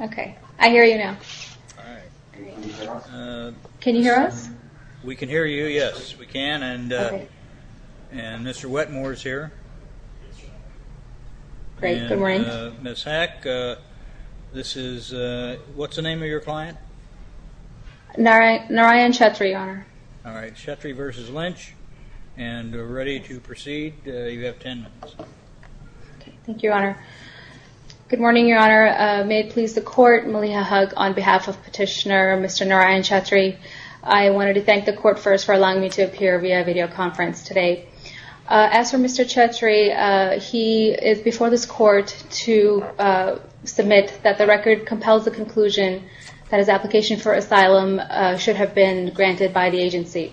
Okay, I hear you now. Can you hear us? We can hear you, yes, we can, and Mr. Wetmore is here. Great, good morning. Ms. Hack, this is, what's the name of your client? Narayan Chetri, your honor. All right, Chetri v. Lynch, and ready to begin. May it please the court, Maliha Hug on behalf of Petitioner Mr. Narayan Chetri. I wanted to thank the court first for allowing me to appear via videoconference today. As for Mr. Chetri, he is before this court to submit that the record compels the conclusion that his application for asylum should have been granted by the agency.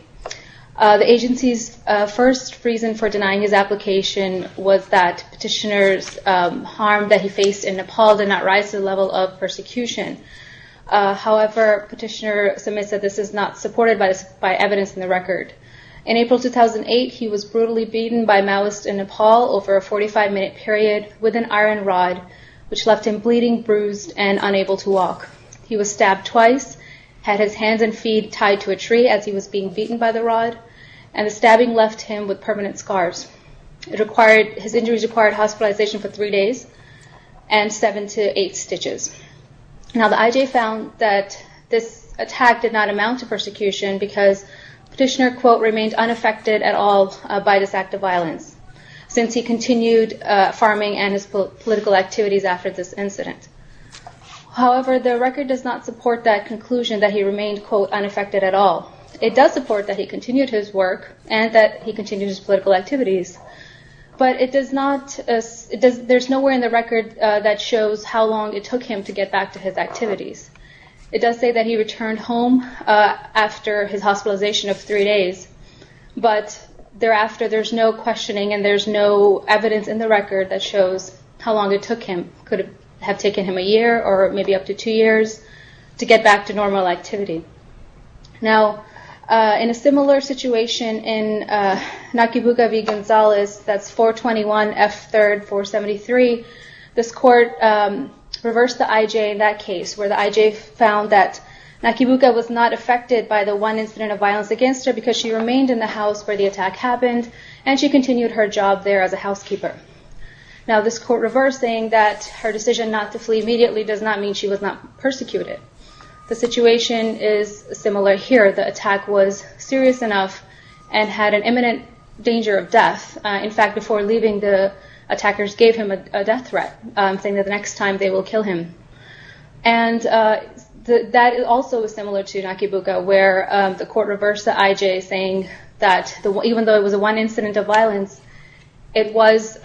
The agency's first reason for denying his application was that petitioner's harm that he faced in Nepal did not rise to the level of persecution. However, petitioner submits that this is not supported by evidence in the record. In April 2008, he was brutally beaten by Maoists in Nepal over a 45-minute period with an iron rod, which left him bleeding, bruised, and unable to walk. He was stabbed twice, had his hands and feet tied to a tree as he was being beaten by the rod, and the stabbing left him with permanent scars. His injuries required hospitalization for three days and seven to eight stitches. Now, the IJ found that this attack did not amount to persecution because petitioner, quote, remained unaffected at all by this act of violence since he continued farming and his political activities after this incident. However, the record does not support that conclusion that he remained, quote, unaffected at all. It does support that he continued his work and that he continued his political activities, but it does not, there's nowhere in the record that shows how long it took him to get back to his activities. It does say that he returned home after his hospitalization of three days, but thereafter there's no questioning and there's no evidence in the record that shows how long it took him. Could have taken him a year or maybe up to two years to get back to normal activity. Now, in a similar situation in Nakibuka v. Gonzalez, that's 421F3rd473, this court reversed the IJ in that case where the IJ found that Nakibuka was not affected by the one incident of violence against her because she remained in the house where the attack happened and she continued her job there as a housekeeper. Now, this court reversed the IJ saying that her decision not to flee immediately does not mean she was not persecuted. The situation is similar here. The attack was serious enough and had an imminent danger of death. In fact, before leaving, the attackers gave him a death threat saying that the next time they will kill him. And that is also similar to Nakibuka where the court reversed the IJ saying that even though it was one incident of violence, it was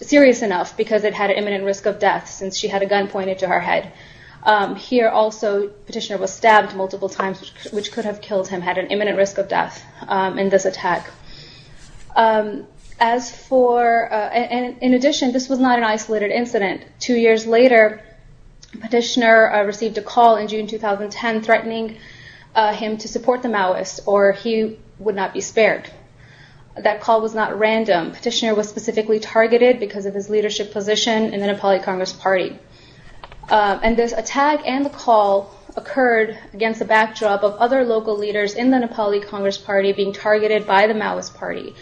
serious enough because it had an imminent risk of death since she had a gun pointed to her head. Here also Petitioner was stabbed multiple times which could have killed him, had an imminent risk of death in this attack. In addition, this was not an isolated incident. Two years later, Petitioner received a call in June 2010 threatening him to support the Maoists or he would not be spared. That call was not random. Petitioner was specifically targeted because of his leadership position in the Nepali Congress Party. And this attack and the call occurred against the backdrop of other local leaders in the Nepali Congress Party being targeted by the Maoist Party.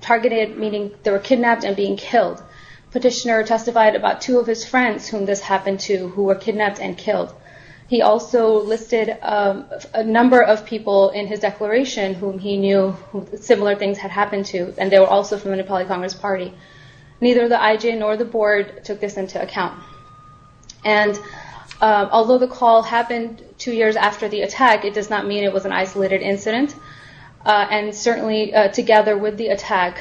Targeted meaning they were kidnapped and being killed. Petitioner testified about two of his friends whom this happened to who were kidnapped and killed. He also listed a number of people in his declaration whom he knew who similar things had happened to and they were also from the Nepali Congress Party. Neither the IJ nor the board took this into account. And although the call happened two years after the attack, it does not mean it was an isolated incident. And certainly together with the attack,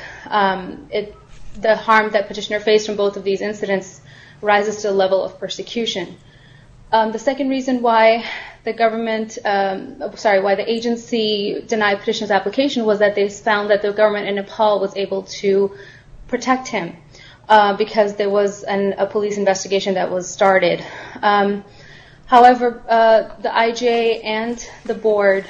the harm that Petitioner faced from both of these incidents rises to the level of persecution. The second reason why the agency denied Petitioner's application was that they found that the government in Nepal was able to protect him because there was a police investigation that was started. However, the IJ and the board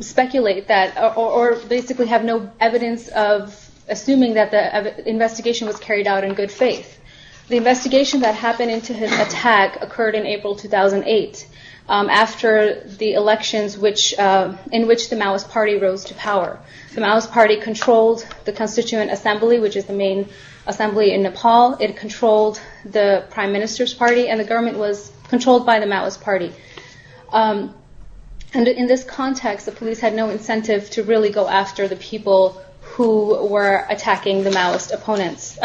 speculate that or basically have no evidence of assuming that the investigation was carried out in good faith. The investigation that happened into his attack occurred in April 2008 after the elections in which the Maoist Party rose to power. The Maoist Party controlled the constituent assembly which is the main assembly in Nepal. It controlled the Prime Minister's party and the government was controlled by the Maoist Party. And in this context, the police had no incentive to really go after the people who were attacking the Maoist opponents.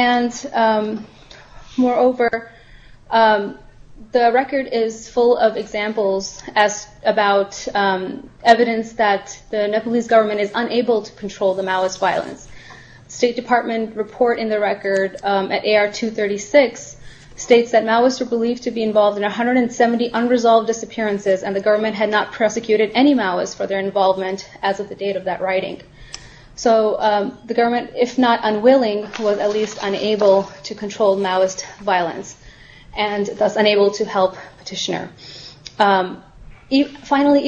And moreover, the record is full of examples as about evidence that the Nepalese government is unable to control the Maoist violence. State Department report in the record at AR 236 states that Maoists were believed to be involved in 170 unresolved disappearances and the government had not prosecuted any involvement as of the date of that writing. So the government, if not unwilling, was at least unable to control Maoist violence and thus unable to help Petitioner. Finally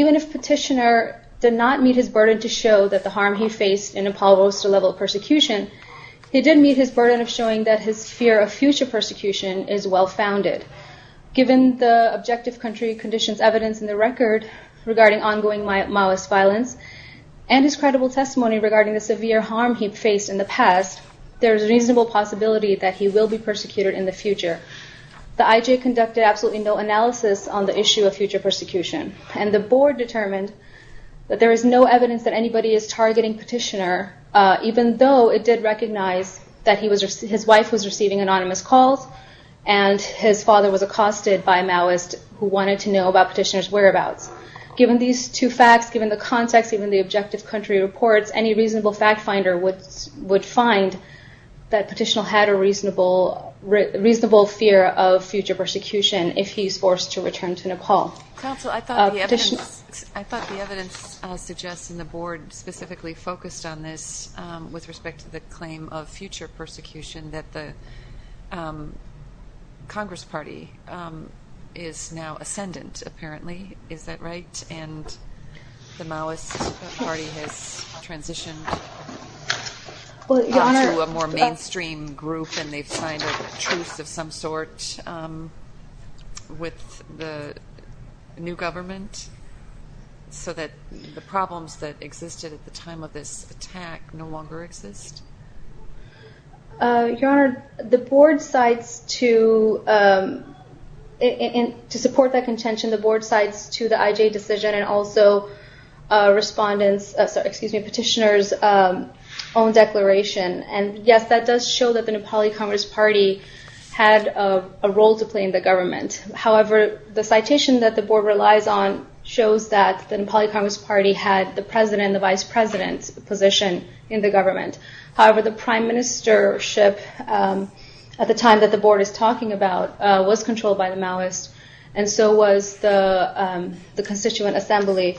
even if Petitioner did not meet his burden to show that the harm he faced in Nepal rose to the level of persecution, he did meet his burden of showing that his fear of future persecution is well founded. Given the objective country conditions evidence in the record regarding ongoing Maoist violence and his credible testimony regarding the severe harm he faced in the past, there is reasonable possibility that he will be persecuted in the future. The IJ conducted absolutely no analysis on the issue of future persecution and the board determined that there is no evidence that anybody is targeting Petitioner even though it did recognize that his wife was receiving anonymous calls and his father was accosted by a Maoist who wanted to know about Petitioner's Given these two facts, given the context, given the objective country reports, any reasonable fact finder would find that Petitioner had a reasonable fear of future persecution if he is forced to return to Nepal. Counsel, I thought the evidence suggests and the board specifically focused on this with respect to the claim of future persecution that the Congress party is now ascendant apparently. Is that right? And the Maoist party has transitioned to a more mainstream group and they've signed a truce of some sort with the new government so that the problems that existed at the time of this attack no longer exist? Your Honor, the board cites to support that IJ decision and also Petitioner's own declaration and yes, that does show that the Nepali Congress party had a role to play in the government. However, the citation that the board relies on shows that the Nepali Congress party had the president and the vice president's position in the government. However, the prime ministership at the time that the board is talking about was controlled by the Maoist and so was the constituent assembly.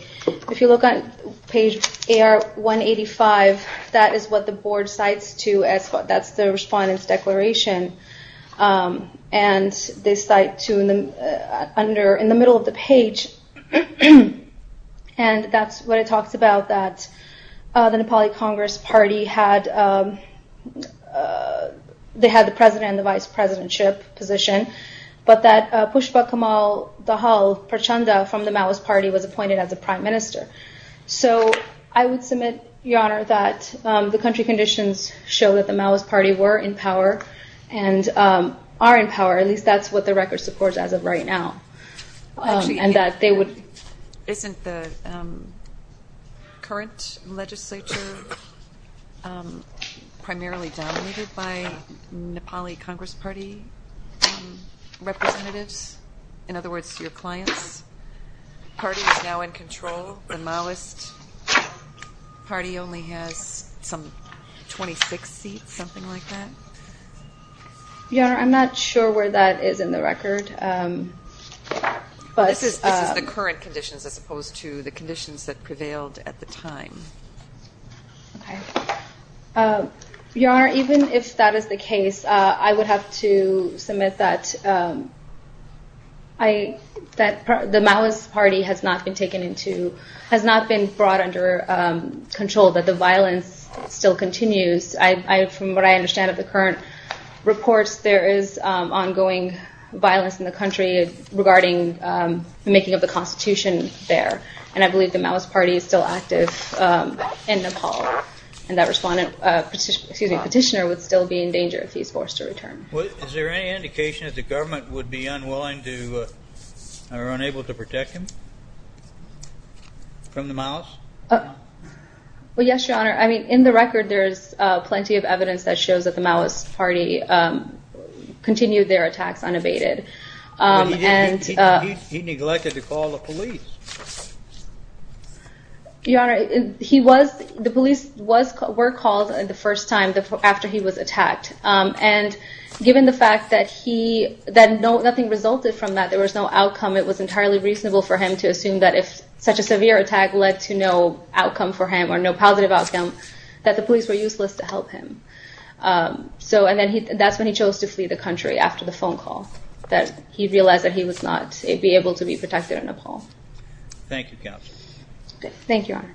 If you look on page AR 185, that is what the board cites to as the respondents' declaration and they cite to in the middle of the page and that's what it talks about that the Nepali Congress party had the president and the vice president's position but that Pushpa Kamal Dahal Prachanda from the Maoist party was appointed as the prime minister. So I would submit, Your Honor, that the country conditions show that the Maoist party were in power and are in power, at least that's what the record supports as of right now. Isn't the current legislature primarily dominated by Nepali Congress? Party representatives? In other words, your clients? The party is now in control, the Maoist party only has some 26 seats, something like that? Your Honor, I'm not sure where that is in the record. This is the current conditions as opposed to the conditions that prevailed at the time. Your Honor, even if that is the case, I would have to submit that the Maoist party has not been taken into, has not been brought under control, that the violence still continues. From what I understand of the current reports, there is ongoing violence in the country regarding the making of the constitution there, and I believe the Maoist party is still active in Nepal, and that petitioner would still be in danger if he's forced to return. Is there any indication that the government would be unwilling to, or unable to protect him from the Maoists? Well, yes, Your Honor, I mean, in the record there is plenty of evidence that shows that the Maoist party continued their attacks unabated. But he neglected to call the police. Your Honor, he was, the police were called the first time after he was attacked, and given the fact that he, that nothing resulted from that, there was no outcome, it was entirely reasonable for him to assume that if such a severe attack led to no outcome for him, or no positive outcome, that the police were useless to help him. So and then he, that's when he chose to flee the country, after the phone call, that he realized that he was not, he'd be able to be protected in Nepal. Thank you, Captain. Thank you, Your Honor.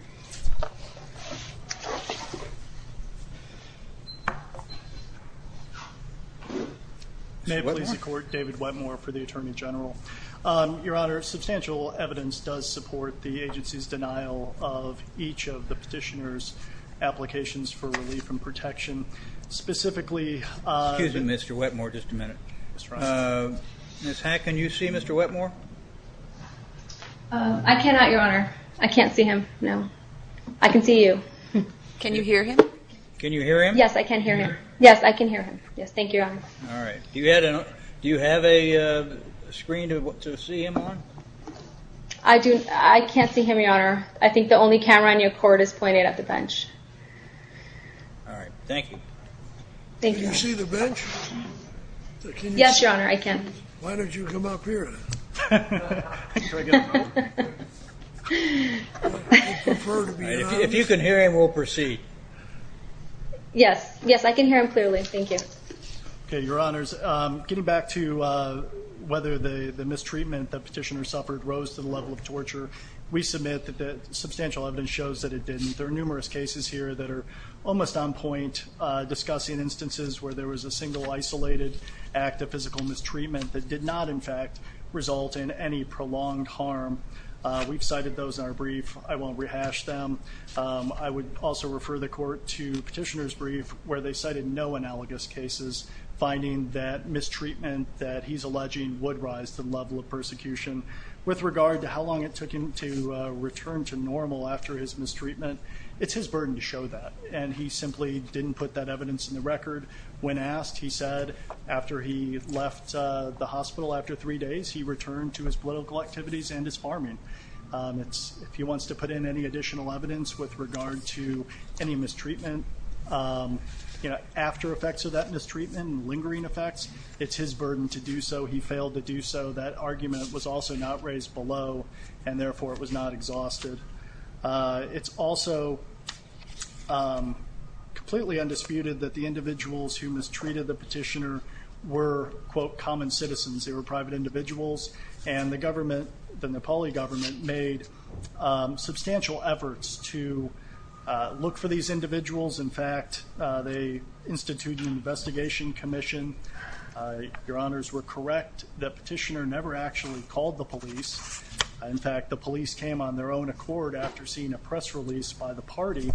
May it please the Court, David Wetmore for the Attorney General. Your Honor, substantial evidence does support the agency's denial of each of the petitioner's applications for relief and protection. Specifically... Excuse me, Mr. Wetmore, just a minute. Ms. Hack, can you see Mr. Wetmore? I cannot, Your Honor. I can't see him, no. I can see you. Can you hear him? Can you hear him? Yes, I can hear him. Yes, thank you, Your Honor. All right. Do you have a, do you have a screen to see him on? I do, I can't see him, Your Honor. I think the only camera on your court is pointed at the bench. All right. Thank you. Thank you. Can you see the bench? Yes, Your Honor, I can. Why don't you come up here? I prefer to be anonymous. If you can hear him, we'll proceed. Thank you. Okay. Thank you. Thank you. Thank you. Thank you. Thank you. Thank you. Thank you. Thank you, Your Honors. Getting back to whether the mistreatment the petitioner suffered rose to the level of torture, we submit that the substantial evidence shows that it didn't. There are numerous cases here that are almost on point discussing instances where there was a single isolated act of physical mistreatment that did not, in fact, result in any prolonged harm. We've cited those in our brief. I won't rehash them. I would also refer the court to petitioner's brief where they cited no analogous cases finding that mistreatment that he's alleging would rise the level of persecution. With regard to how long it took him to return to normal after his mistreatment, it's his burden to show that. And he simply didn't put that evidence in the record. When asked, he said after he left the hospital after three days, he returned to his political activities and his farming. If he wants to put in any additional evidence with regard to any mistreatment, you know, after effects of that mistreatment, lingering effects, it's his burden to do so. He failed to do so. That argument was also not raised below, and therefore, it was not exhausted. It's also completely undisputed that the individuals who mistreated the petitioner were, quote, common citizens. They were private individuals. And the government, the Nepali government, made substantial efforts to look for these individuals. In fact, they instituted an investigation commission. Your honors were correct that petitioner never actually called the police. In fact, the police came on their own accord after seeing a press release by the party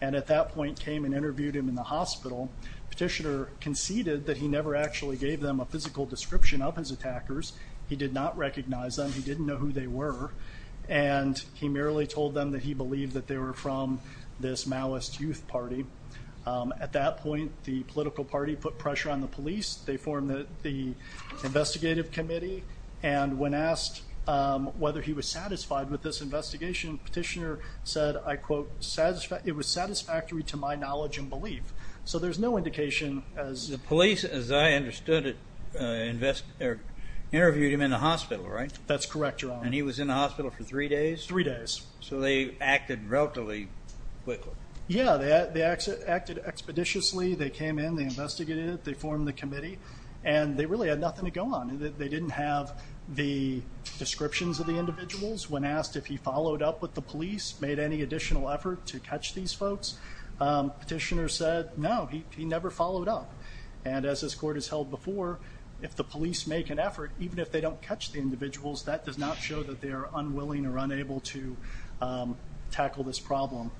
and at that point came and interviewed him in the hospital. Petitioner conceded that he never actually gave them a physical description of his attackers. He did not recognize them. He didn't know who they were. And he merely told them that he believed that they were from this Maoist youth party. At that point, the political party put pressure on the police. They formed the investigative committee. And when asked whether he was satisfied with this investigation, petitioner said, I quote, it was satisfactory to my knowledge and belief. So there's no indication as- The police, as I understood it, interviewed him in the hospital, right? That's correct, your honor. And he was in the hospital for three days? Three days. So they acted relatively quickly. Yeah, they acted expeditiously. They came in, they investigated, they formed the committee, and they really had nothing to go on. They didn't have the descriptions of the individuals. When asked if he followed up with the police, made any additional effort to catch these And as this court has held before, if the police make an effort, even if they don't catch the individuals, that does not show that they are unwilling or unable to tackle this problem.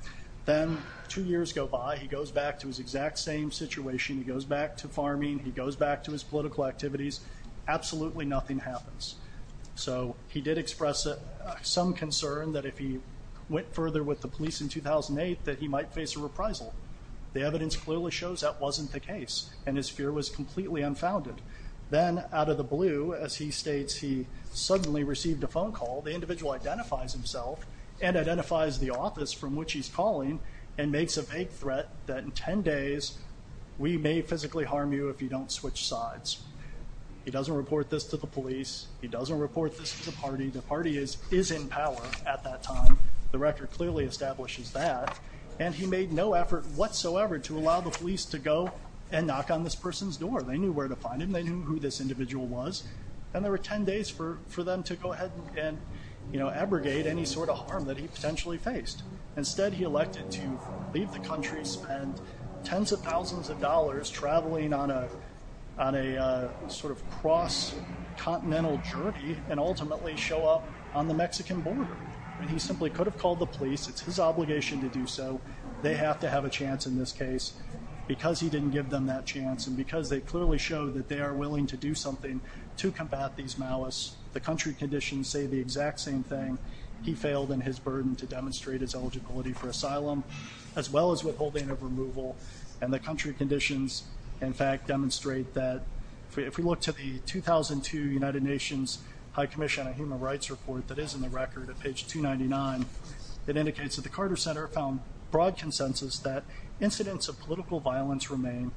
Then, two years go by, he goes back to his exact same situation. He goes back to farming, he goes back to his political activities. Absolutely nothing happens. So he did express some concern that if he went further with the police in 2008, that he might face a reprisal. The evidence clearly shows that wasn't the case. And his fear was completely unfounded. Then, out of the blue, as he states, he suddenly received a phone call. The individual identifies himself and identifies the office from which he's calling and makes a vague threat that in 10 days, we may physically harm you if you don't switch sides. He doesn't report this to the police. He doesn't report this to the party. The party is in power at that time. The record clearly establishes that. And he made no effort whatsoever to allow the police to go and knock on this person's door. They knew where to find him. They knew who this individual was. And there were 10 days for them to go ahead and abrogate any sort of harm that he potentially faced. Instead, he elected to leave the country, spend tens of thousands of dollars traveling on a sort of cross-continental journey, and ultimately show up on the Mexican border. I mean, he simply could have called the police. It's his obligation to do so. They have to have a chance in this case. Because he didn't give them that chance and because they clearly showed that they are willing to do something to combat these malice, the country conditions say the exact same thing. He failed in his burden to demonstrate his eligibility for asylum, as well as withholding of removal. And the country conditions, in fact, demonstrate that if we look to the 2002 United Nations High Commission on Human Rights report that is in the record at page 299, it indicates that the Carter Center found broad consensus that incidents of political violence remain.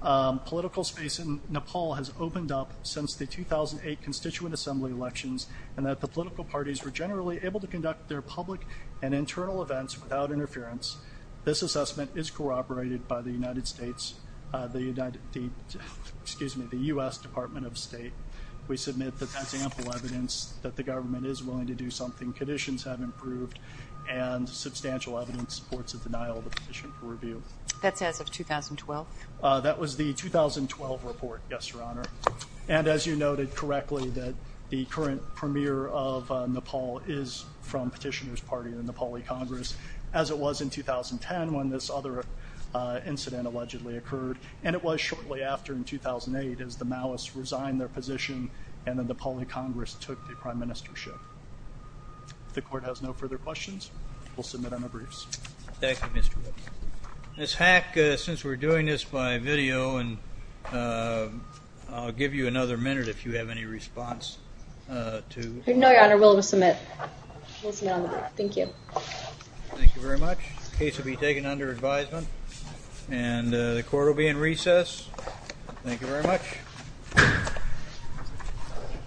Political space in Nepal has opened up since the 2008 Constituent Assembly elections and that the political parties were generally able to conduct their public and internal events without interference. This assessment is corroborated by the United States, the United States, excuse me, the U.S. Department of State. We submit that that's ample evidence that the government is willing to do something. Conditions have improved and substantial evidence supports a denial of the petition for review. That's as of 2012? That was the 2012 report, yes, Your Honor. And as you noted correctly, that the current premier of Nepal is from Petitioner's Party in the Nepali Congress, as it was in 2010 when this other incident allegedly occurred. And it was shortly after, in 2008, as the Maoists resigned their position and the Nepali Congress took the prime ministership. The court has no further questions. We'll submit on the briefs. Thank you, Mr. Witt. Ms. Hack, since we're doing this by video, I'll give you another minute if you have any response to... No, Your Honor, we'll submit. We'll submit on the brief. Thank you. Thank you very much. The case will be taken under advisement. And the court will be in recess. Thank you very much.